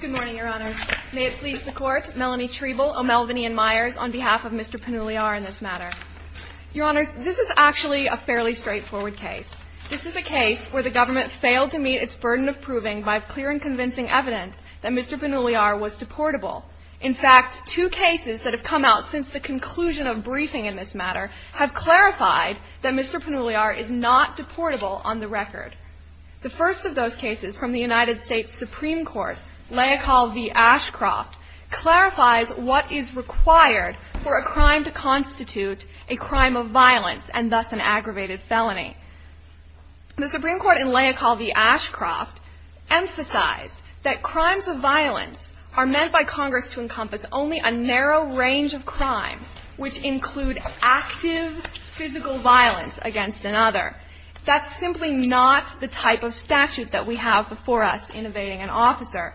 Good morning, Your Honor. May it please the Court, Melanie Treble, O'Melveny, and Myers on behalf of Mr. Penuliar in this matter. Your Honor, this is actually a fairly straightforward case. This is a case where the government failed to meet its burden of proving by clear and convincing evidence that Mr. Penuliar was deportable. In fact, two cases that have come out since the conclusion of briefing in this matter have clarified that Mr. Penuliar is not deportable on the record. The first of those cases from the United States Supreme Court, Leocal v. Ashcroft, clarifies what is required for a crime to constitute a crime of violence and thus an aggravated felony. The Supreme Court in Leocal v. Ashcroft emphasized that crimes of violence are meant by Congress to encompass only a narrow range of crimes which include active physical violence against another. That's simply not the type of statute that we have before us in evading an officer.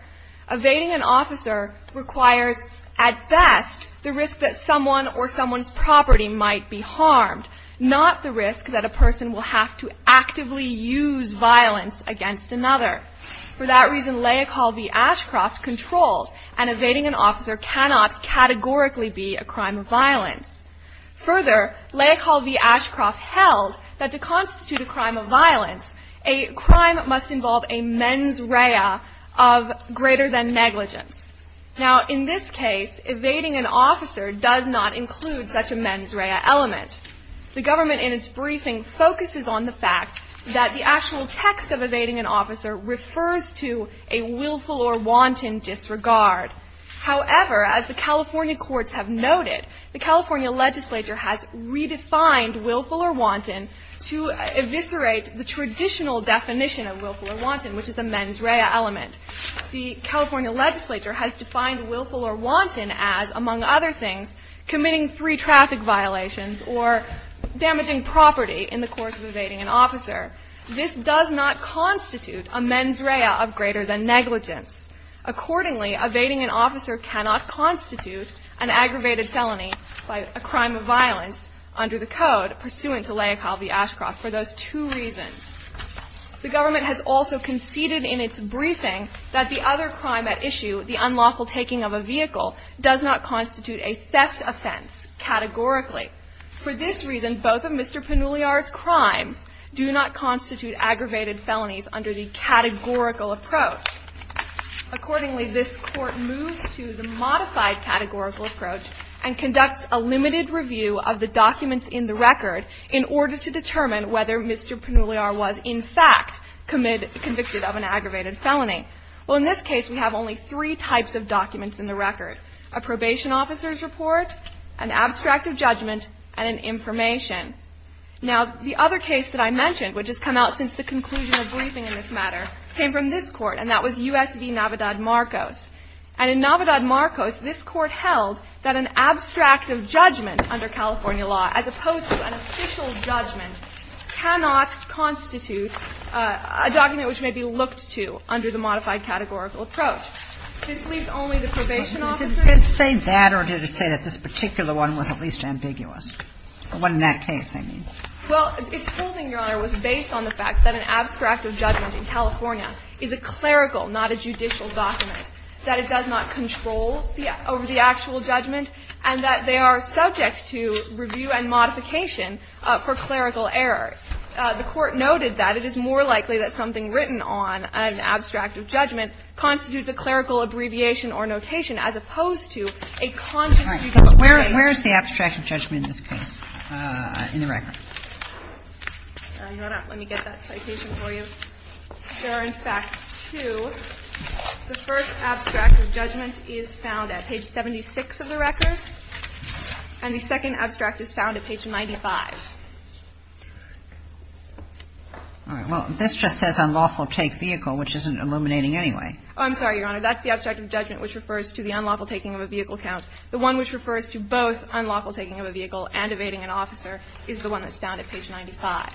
Evading an officer requires, at best, the risk that someone or someone's property might be harmed, not the risk that a person will have to actively use violence against another. For that reason, Leocal v. Ashcroft controls, and evading an officer cannot categorically be a crime of violence. Further, Leocal v. Ashcroft held that to constitute a crime of violence, a crime must involve a mens rea of greater than negligence. Now, in this case, evading an officer does not include such a mens rea element. The government in its briefing focuses on the fact that the actual text of evading an officer refers to a willful or wanton. As I have noted, the California legislature has redefined willful or wanton to eviscerate the traditional definition of willful or wanton, which is a mens rea element. The California legislature has defined willful or wanton as, among other things, committing three traffic violations or damaging property in the course of evading an officer. This does not constitute a mens rea of greater than negligence. Accordingly, evading an officer cannot constitute an aggravated felony by a crime of violence under the Code pursuant to Leocal v. Ashcroft for those two reasons. The government has also conceded in its briefing that the other crime at issue, the unlawful taking of a vehicle, does not constitute a theft offense categorically. For this reason, both of Mr. Pannulliar's crimes do not constitute aggravated felonies under the categorical approach. Accordingly, this Court moves to the modified categorical approach and conducts a limited review of the documents in the record in order to determine whether Mr. Pannulliar was, in fact, convicted of an aggravated felony. Well, in this case, we have only three types of documents in the record, a probation officer's report, an abstract of judgment, and an information. Now, the other case that I mentioned, which has come out since the conclusion of briefing in this matter, came from this Court, and that was U.S. v. Navidad-Marcos. And in Navidad-Marcos, this Court held that an abstract of judgment under California law, as opposed to an official judgment, cannot constitute a document which may be looked to under the modified categorical approach. This leaves only the probation officer. Kagan. Did it say that or did it say that this particular one was at least ambiguous? Or one in that case, I mean. Well, its holding, Your Honor, was based on the fact that an abstract of judgment in California is a clerical, not a judicial, document, that it does not control over the actual judgment, and that they are subject to review and modification for clerical error. The Court noted that it is more likely that something written on an abstract of judgment constitutes a clerical abbreviation or notation as opposed to a constitutional abbreviation. Where is the abstract of judgment in this case, in the record? Let me get that citation for you. There are, in fact, two. The first abstract of judgment is found at page 76 of the record, and the second abstract is found at page 95. All right. Well, this just says unlawful take vehicle, which isn't illuminating anyway. Oh, I'm sorry, Your Honor. That's the abstract of judgment which refers to the unlawful taking of a vehicle counts. The one which refers to both unlawful taking of a vehicle and evading an officer is the one that's found at page 95.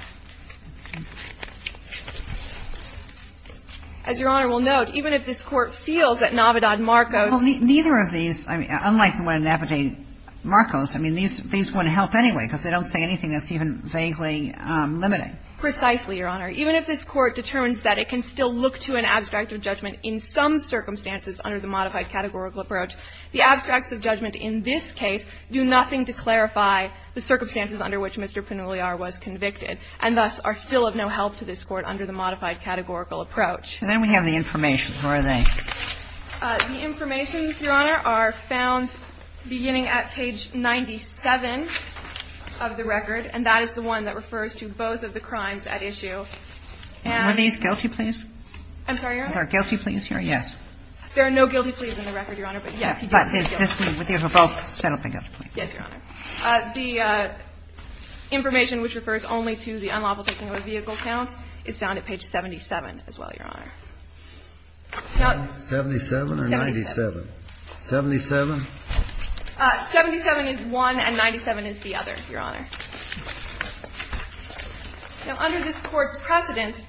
As Your Honor will note, even if this Court feels that Navidad Marcos ---- Well, neither of these, I mean, unlike the one in Navidad Marcos, I mean, these wouldn't help anyway, because they don't say anything that's even vaguely limiting. Precisely, Your Honor. Even if this Court determines that it can still look to an abstract of judgment in some circumstances under the modified categorical approach, the abstracts of judgment in this case do nothing to clarify the circumstances under which Mr. Pannuliar was convicted, and thus are still of no help to this Court under the modified categorical approach. And then we have the information. Where are they? The information, Your Honor, are found beginning at page 97 of the record, and that is the one that refers to both of the crimes at issue. And ---- Were these guilty, please? I'm sorry, Your Honor? Are there guilty pleas here? Yes. There are no guilty pleas in the record, Your Honor, but yes, he did have a guilty plea. But is this one with you for both? Yes, Your Honor. The information which refers only to the unlawful taking of a vehicle count is found at page 77 as well, Your Honor. Now ---- 77 or 97? 77. 77 is one and 97 is the other, Your Honor. Now, under this Court's precedent,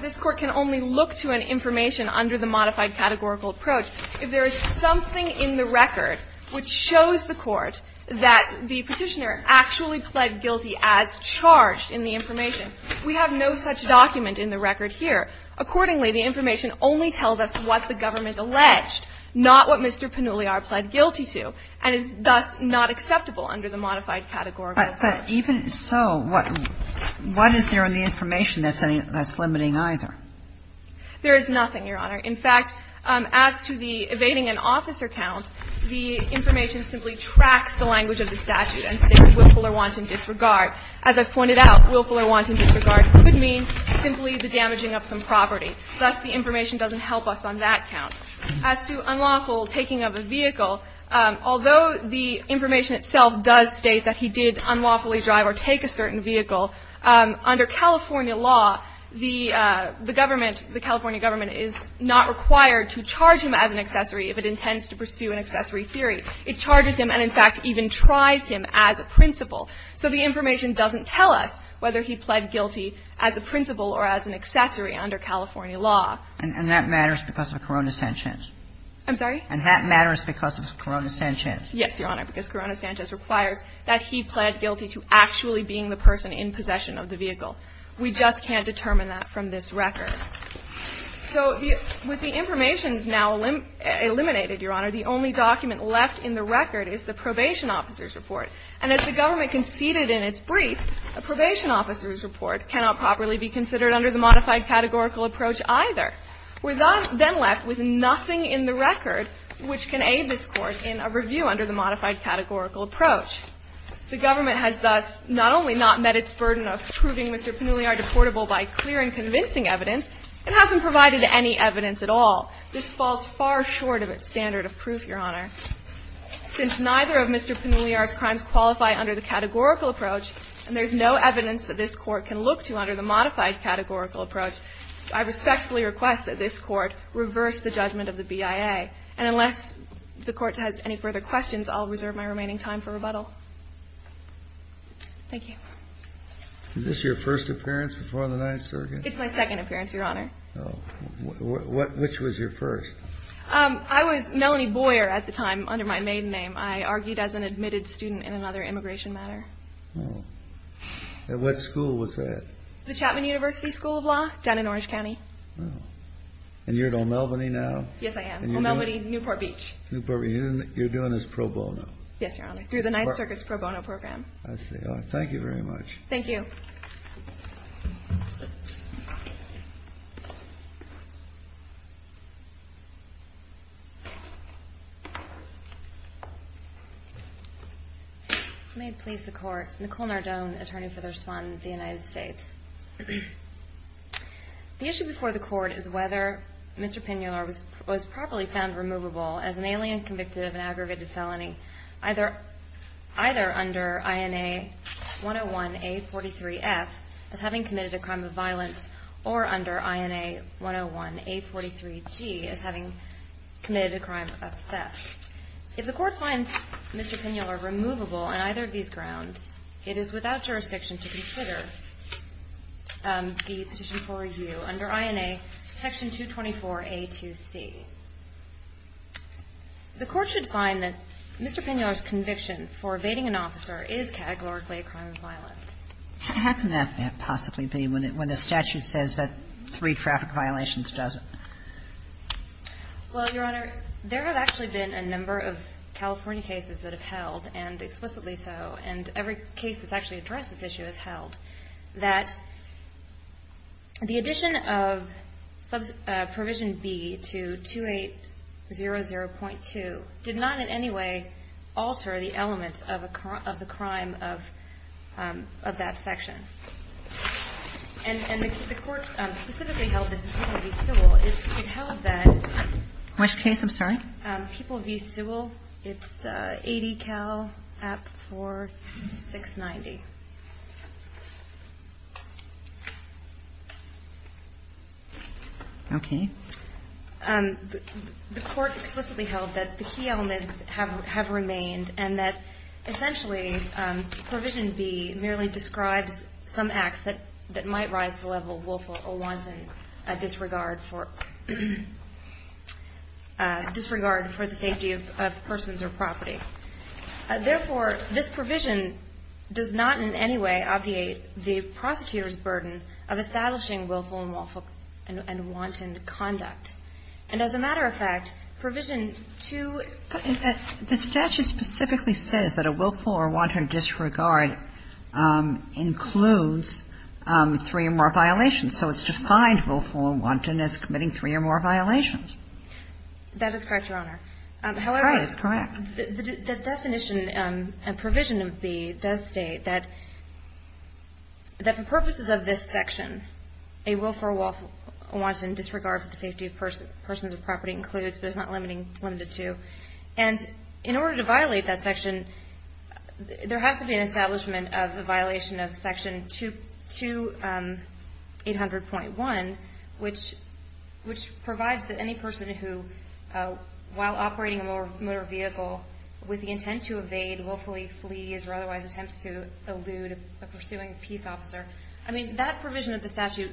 this Court can only look to an information under the modified categorical approach. If there is something in the record which shows the Court that the Petitioner actually pled guilty as charged in the information, we have no such document in the record here. Accordingly, the information only tells us what the government alleged, not what Mr. Pannuliar pled guilty to, and is thus not acceptable under the modified categorical approach. But even so, what is there in the information that's limiting either? There is nothing, Your Honor. In fact, as to the evading an officer count, the information simply tracks the language of the statute and states willful or wanton disregard. As I've pointed out, willful or wanton disregard could mean simply the damaging of some property. Thus, the information doesn't help us on that count. As to unlawful taking of a vehicle, although the information itself does state that he did unlawfully drive or take a certain vehicle, under California law, the government the California government is not required to charge him as an accessory if it intends to pursue an accessory theory. It charges him and, in fact, even tries him as a principal. So the information doesn't tell us whether he pled guilty as a principal or as an accessory under California law. And that matters because of Corona Sanchez? I'm sorry? And that matters because of Corona Sanchez? Yes, Your Honor, because Corona Sanchez requires that he pled guilty to actually being the person in possession of the vehicle. We just can't determine that from this record. So with the information now eliminated, Your Honor, the only document left in the record is the probation officer's report. And as the government conceded in its brief, a probation officer's report cannot properly be considered under the modified categorical approach either. We're then left with nothing in the record which can aid this Court in a review under the modified categorical approach. The government has thus not only not met its burden of proving Mr. Pannulliar deportable by clear and convincing evidence, it hasn't provided any evidence at all. This falls far short of its standard of proof, Your Honor. Since neither of Mr. Pannulliar's crimes qualify under the categorical approach, and there's no evidence that this Court can look to under the modified categorical approach, I respectfully request that this Court reverse the judgment of the BIA. And unless the Court has any further questions, I'll reserve my remaining time for rebuttal. Thank you. Is this your first appearance before the Ninth Circuit? It's my second appearance, Your Honor. Which was your first? I was Melanie Boyer at the time under my maiden name. I argued as an admitted student in another immigration matter. And what school was that? The Chapman University School of Law down in Orange County. And you're at O'Melveny now? Yes, I am. O'Melveny, Newport Beach. Newport Beach. And you're doing this pro bono? Yes, Your Honor. Through the Ninth Circuit's pro bono program. I see. Thank you very much. Thank you. May it please the Court, Nicole Nardone, attorney for the respondent of the United States. The issue before the Court is whether Mr. Pinular was properly found removable as an alien convicted of an aggravated felony either under INA 101-A43-F as having committed a crime of violence or under INA 101-A43-G as having committed a crime of theft. If the Court finds Mr. Pinular removable on either of these grounds, it is without jurisdiction to consider the petition for review under INA section 224-A2C. The Court should find that Mr. Pinular's conviction for evading an officer is categorically a crime of violence. How can that possibly be when the statute says that three traffic violations doesn't? Well, Your Honor, there have actually been a number of California cases that have held, and explicitly so, and every case that's actually addressed this issue has held, that the addition of provision B to 2800.2 did not in any way alter the elements of the crime of that section. And the Court specifically held that people v. Sewell, it held that. Which case, I'm sorry? People v. Sewell. It's 80 Cal App 4690. Okay. The Court explicitly held that the key elements have remained and that essentially provision B merely describes some acts that might rise to the level of willful or wanton disregard for the safety of persons or property. Therefore, this provision does not in any way obviate the prosecutor's burden of establishing willful and wanton conduct. And as a matter of fact, provision 2. The statute specifically says that a willful or wanton disregard includes three or more violations. So it's defined willful and wanton as committing three or more violations. That is correct, Your Honor. However. That is correct. The definition and provision of B does state that for purposes of this section, a willful or wanton disregard for the safety of persons or property includes, but it's not limited to. And in order to violate that section, there has to be an establishment of a violation of section 2800.1, which provides that any person who, while operating a motor vehicle with the intent to evade, willfully flees or otherwise attempts to elude a pursuing peace officer. I mean, that provision of the statute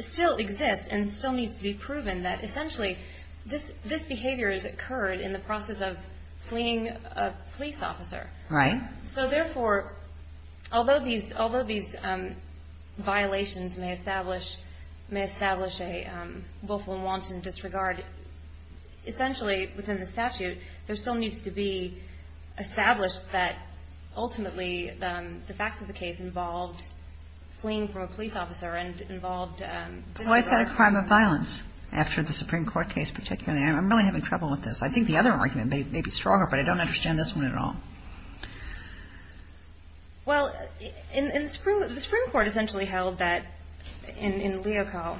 still exists and still needs to be proven that essentially this behavior has occurred in the process of fleeing a police officer. Right. So therefore, although these violations may establish a willful and wanton disregard, essentially within the statute, there still needs to be established that ultimately the facts of the case involved fleeing from a police officer and involved disregard. Well, I've had a crime of violence after the Supreme Court case particularly. I'm really having trouble with this. I think the other argument may be stronger, but I don't understand this one at all. Well, in the Supreme Court essentially held that in Leocal,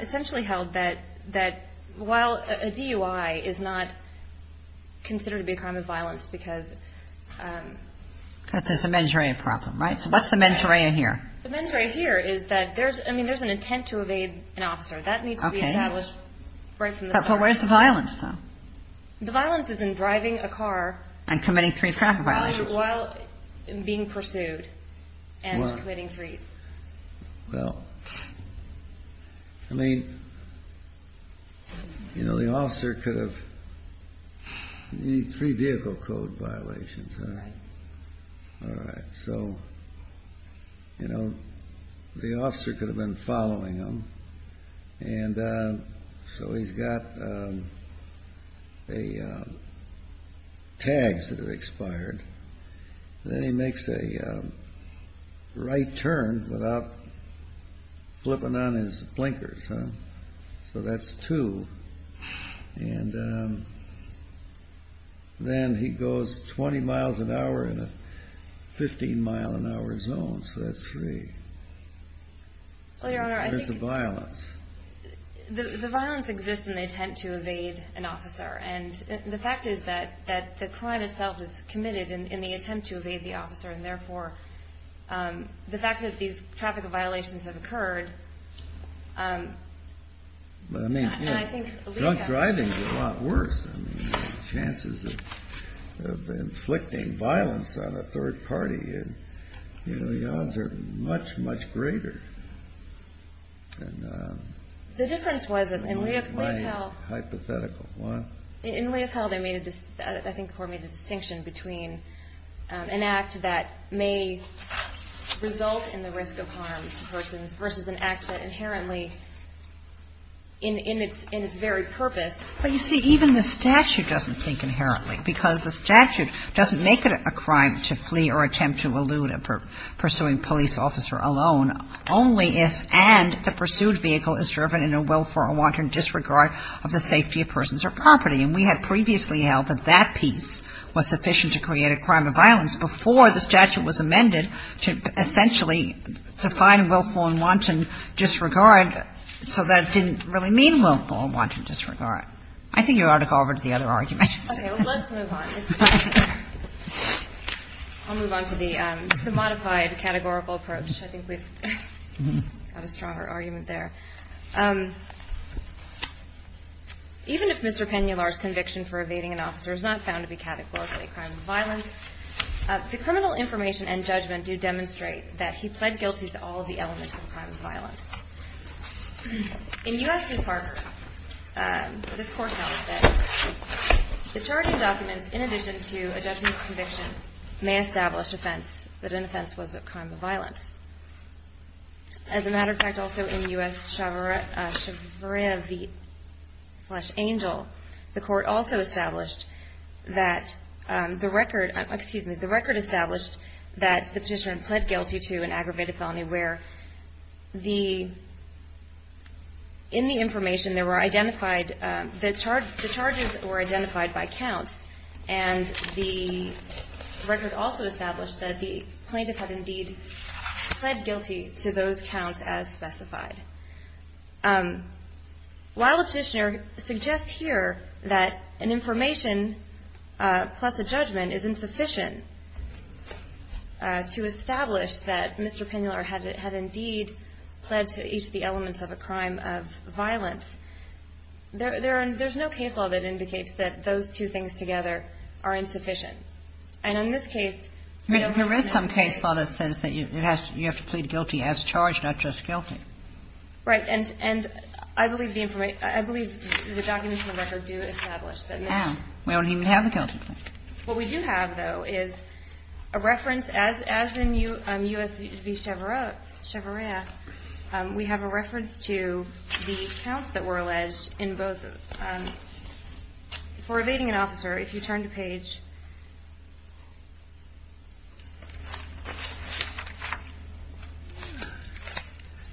essentially held that while a DUI is not considered to be a crime of violence because Because there's a mens rea problem, right? So what's the mens rea here? The mens rea here is that there's, I mean, there's an intent to evade an officer. But where's the violence though? The violence is in driving a car. And committing three traffic violations. While being pursued and committing three. Well, I mean, you know, the officer could have, you need three vehicle code violations, right? Right. So, you know, the officer could have been following him. And so he's got tags that have expired. Then he makes a right turn without flipping on his blinkers. So that's two. And then he goes 20 miles an hour in a 15 mile an hour zone. So that's three. Well, Your Honor, I think. Where's the violence? The violence exists in the intent to evade an officer. And the fact is that the crime itself is committed in the attempt to evade the officer. And therefore, the fact that these traffic violations have occurred. But I mean, drunk driving is a lot worse. Chances of inflicting violence on a third party. You know, the odds are much, much greater. The difference was that in Leopold. Hypothetical, what? In Leopold, I think the court made a distinction between an act that may result in the risk of harm to persons. Versus an act that inherently in its very purpose. But you see, even the statute doesn't think inherently. Because the statute doesn't make it a crime to flee or attempt to elude a pursuing police officer alone. Only if and if the pursued vehicle is driven in a willful or wanton disregard of the safety of persons or property. And we had previously held that that piece was sufficient to create a crime of violence. And the statute has not, in any way, said that. And I think it's a matter of time before the statute was amended to essentially define willful and wanton disregard. So that didn't really mean willful and wanton disregard. I think you ought to go over to the other arguments. Okay. Let's move on. I'll move on to the modified categorical approach. I think we've got a stronger argument there. Even if Mr. Pennulaar's conviction for evading an officer is not found to be categorically a crime of violence, the criminal information and judgment do demonstrate that he pled guilty to all of the elements of a crime of violence. In U.S. v. Parker, this Court held that the charging documents, in addition to a judgment of conviction, may establish offense that an offense was a crime of violence. As a matter of fact, also in U.S. chavria v. Angel, the Court also established that the record, excuse me, the record established that the petitioner had pled guilty to an aggravated felony where the, in the information there were identified, the charges were identified by counts. And the record also established that the plaintiff had indeed pled guilty to those counts as specified. While the petitioner suggests here that an information plus a judgment is insufficient to establish that Mr. Pennulaar had indeed pled to each of the elements of a crime of violence, there's no case law that indicates that those two things together are insufficient. And in this case, you know, there is some case law that says that you have to plead guilty as charged, not just guilty. Right. And I believe the information, I believe the documents in the record do establish that. We don't even have the guilty plea. What we do have, though, is a reference, as in U.S. v. chavria, we have a reference to the counts that were alleged in both. For evading an officer, if you turn to page...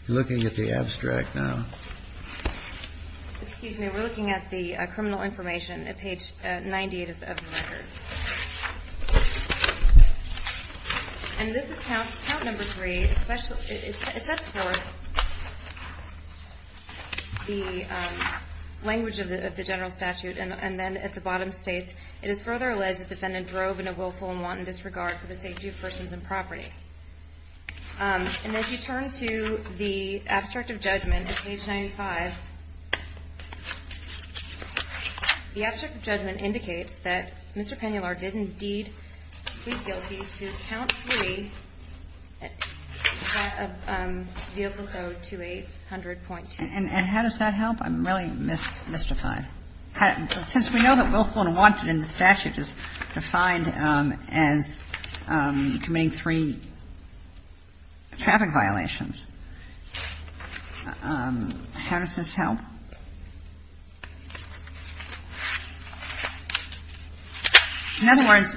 Looking at the abstract now. Excuse me, we're looking at the criminal information at page 98 of the record. And this is count number three. It sets forth the language of the general statute, and then at the bottom states, it is further alleged the defendant drove in a willful and wanton disregard for the safety of persons and property. And if you turn to the abstract of judgment at page 95, the abstract of judgment indicates that Mr. Pennular did indeed plead guilty to count three, vehicle code 2800.2. And how does that help? I'm really mystified. Since we know that willful and wanton in the statute is defined as committing three traffic violations, how does this help? In other words,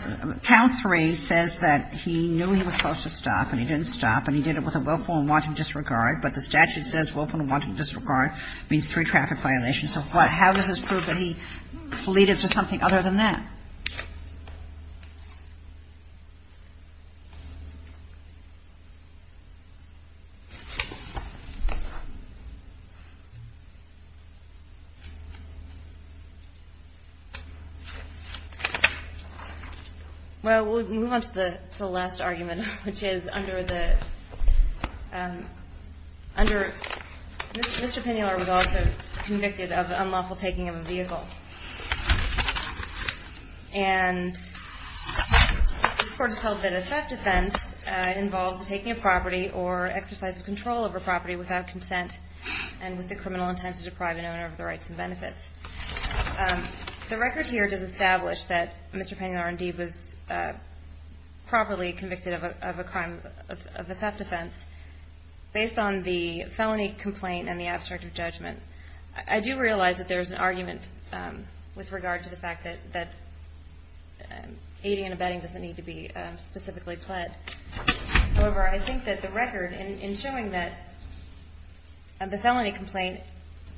count three says that he knew he was supposed to stop and he didn't stop and he did it with a willful and wanton disregard, but the statute says willful and wanton disregard means three traffic violations. So how does this prove that he pleaded to something other than that? Well, we'll move on to the last argument, which is under the Mr. Pennular was also convicted of unlawful taking of a vehicle. And this court has held that a theft offense involves taking a property or exercise of control over property without consent and with the criminal intent to deprive an owner of the rights and benefits. The record here does establish that Mr. Pennular indeed was properly convicted of a crime of a theft offense. Based on the felony complaint and the abstract of judgment, I do realize that there is an argument with regard to the fact that aiding and abetting doesn't need to be specifically pled. However, I think that the record in showing that the felony complaint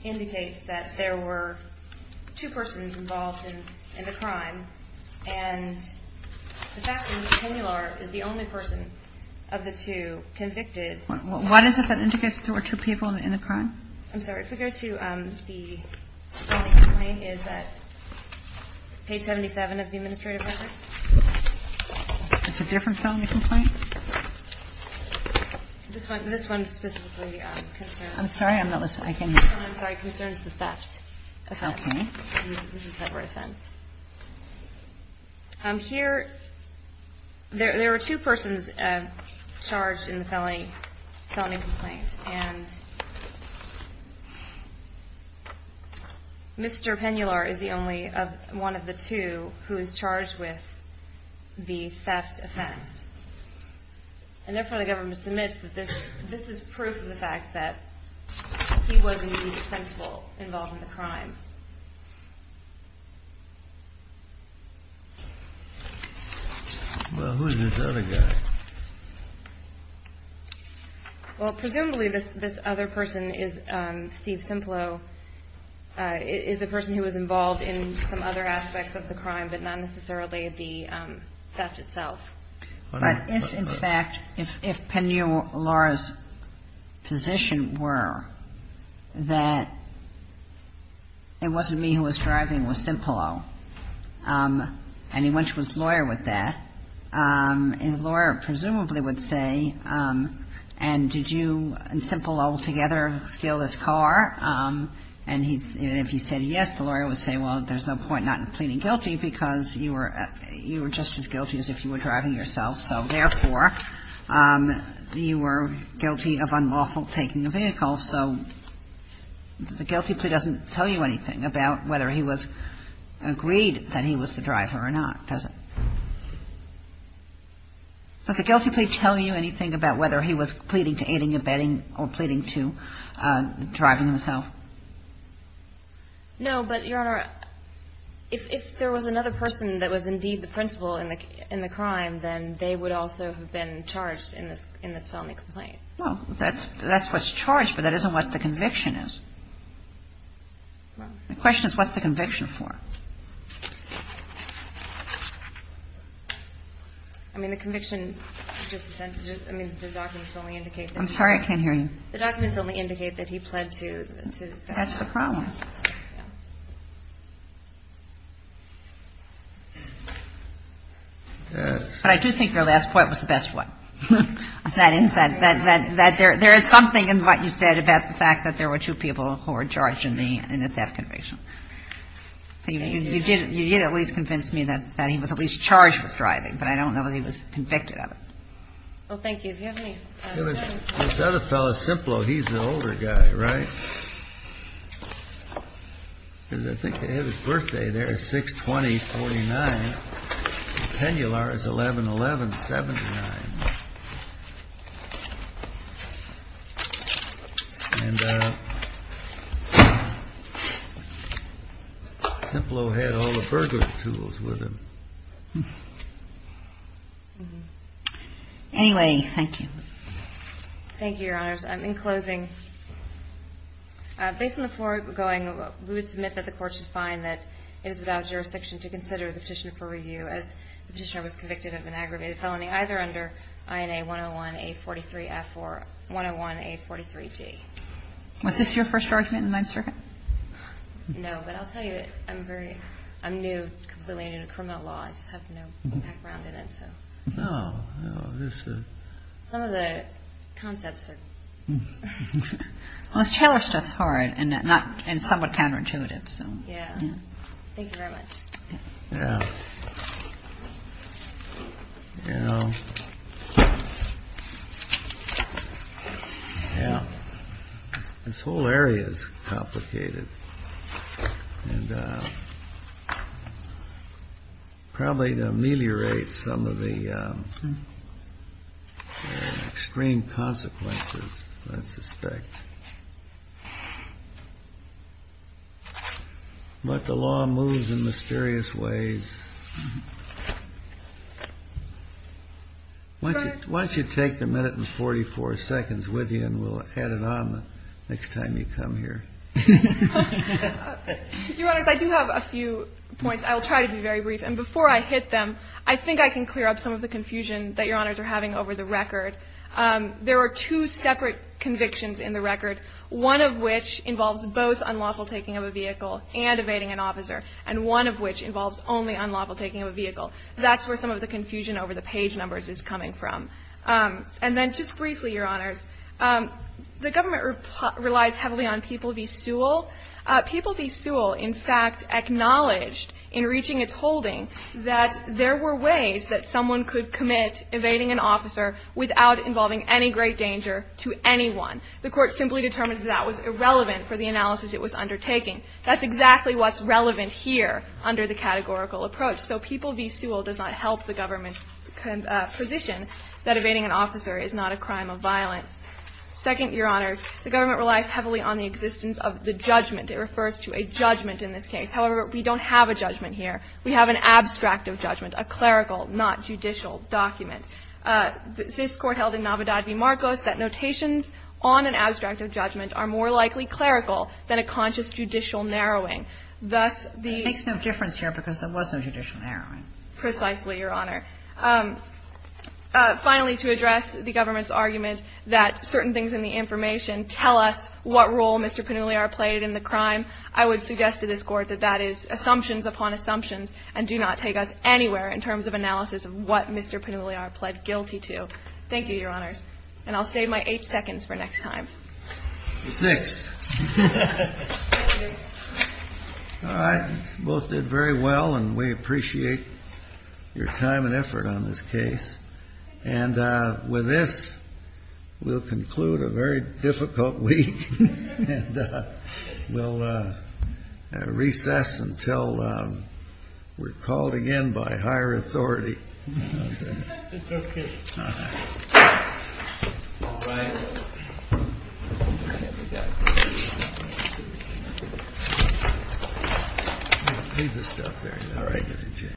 indicates that there were two persons involved in the crime and the fact that Mr. Pennular is the only person of the two convicted. What is it that indicates there were two people in the crime? I'm sorry. If we go to the felony complaint, it's at page 77 of the administrative record. It's a different felony complaint? This one specifically concerns the theft offense. Here, there were two persons charged in the felony complaint. And Mr. Pennular is the only one of the two who is charged with the theft offense. And therefore, the government submits that this is proof of the fact that he was indeed the principal involved in the crime. Well, who's this other guy? Well, presumably, this other person is Steve Simplow, is a person who was involved in some other aspects of the crime, but not necessarily the theft itself. But if, in fact, if Pennular's position were that there were two persons involved in the crime, it wasn't me who was driving, it was Simplow. And he went to his lawyer with that. His lawyer presumably would say, and did you and Simplow together steal this car? And if he said yes, the lawyer would say, well, there's no point not in pleading guilty because you were just as guilty as if you were driving yourself, so therefore, you were guilty of unlawful taking the vehicle. So the guilty plea doesn't tell you anything about whether he was agreed that he was the driver or not, does it? Does the guilty plea tell you anything about whether he was pleading to aiding, abetting, or pleading to driving himself? No, but, Your Honor, if there was another person that was indeed the principal in the crime, then they would also have been charged in this felony complaint. Well, that's what's charged, but that isn't what the conviction is. The question is, what's the conviction for? I mean, the conviction is just a sentence. I mean, the documents only indicate that. I'm sorry, I can't hear you. The documents only indicate that he pled to theft. That's the problem. But I do think your last point was the best one. That is, that there is something in what you said about the fact that there were two people who were charged in the theft conviction. You did at least convince me that he was at least charged with driving, but I don't know that he was convicted of it. Well, thank you. Do you have any questions? This other fellow, Simplo, he's the older guy, right? Because I think they have his birthday there. It's 6-20-49. Pennular is 11-11-79. And Simplo had all the burglar tools with him. Anyway, thank you. Thank you, Your Honors. In closing, based on the floor we're going, we would submit that the Court should find that it is without jurisdiction to consider the Petitioner for Review as the Petitioner was convicted of an aggravated felony either under INA 101-A43-F or 101-A43-G. Was this your first argument in the Ninth Circuit? No, but I'll tell you, I'm new, completely new to criminal law. I just have no background in it, so. No, no, this is. Some of the concepts are. Well, this Taylor stuff's hard and somewhat counterintuitive, so. Yeah. Thank you very much. Yeah. Yeah. Yeah. This whole area is complicated. And probably to ameliorate some of the extreme consequences, I suspect. But the law moves in mysterious ways. Why don't you take the minute and 44 seconds with you and we'll add it on the next time you come here. Your Honors, I do have a few points. I'll try to be very brief. And before I hit them, I think I can clear up some of the confusion that Your Honors are having over the record. There are two separate convictions in the record, one of which involves both unlawful taking of a vehicle and evading an officer, and one of which involves only unlawful taking of a vehicle. That's where some of the confusion over the page numbers is coming from. And then just briefly, Your Honors, the government relies heavily on people v. Sewell. People v. Sewell, in fact, acknowledged in reaching its holding that there were ways that someone could commit evading an officer without involving any great danger to anyone. The Court simply determined that that was irrelevant for the analysis it was undertaking. That's exactly what's relevant here under the categorical approach. So people v. Sewell does not help the government's position that evading an officer is not a crime of violence. Second, Your Honors, the government relies heavily on the existence of the judgment. It refers to a judgment in this case. However, we don't have a judgment here. We have an abstract of judgment, a clerical, not judicial document. This Court held in Navidad v. Marcos that notations on an abstract of judgment are more likely clerical than a conscious judicial narrowing. Thus, the ---- This Court held in Navidad v. Marcos that notations on an abstract of judgment are more likely clerical than a conscious judicial narrowing. Precisely, Your Honor. Finally, to address the government's argument that certain things in the information tell us what role Mr. Pannulliar played in the crime, I would suggest to this Court that that is assumptions upon assumptions and do not take us anywhere in terms of analysis of what Mr. Pannulliar pled guilty to. Thank you, Your Honors. And I'll save my eight seconds for next time. Six. All right. You both did very well, and we appreciate your time and effort on this case. And with this, we'll conclude a very difficult week. And we'll recess until we're called again by higher authority.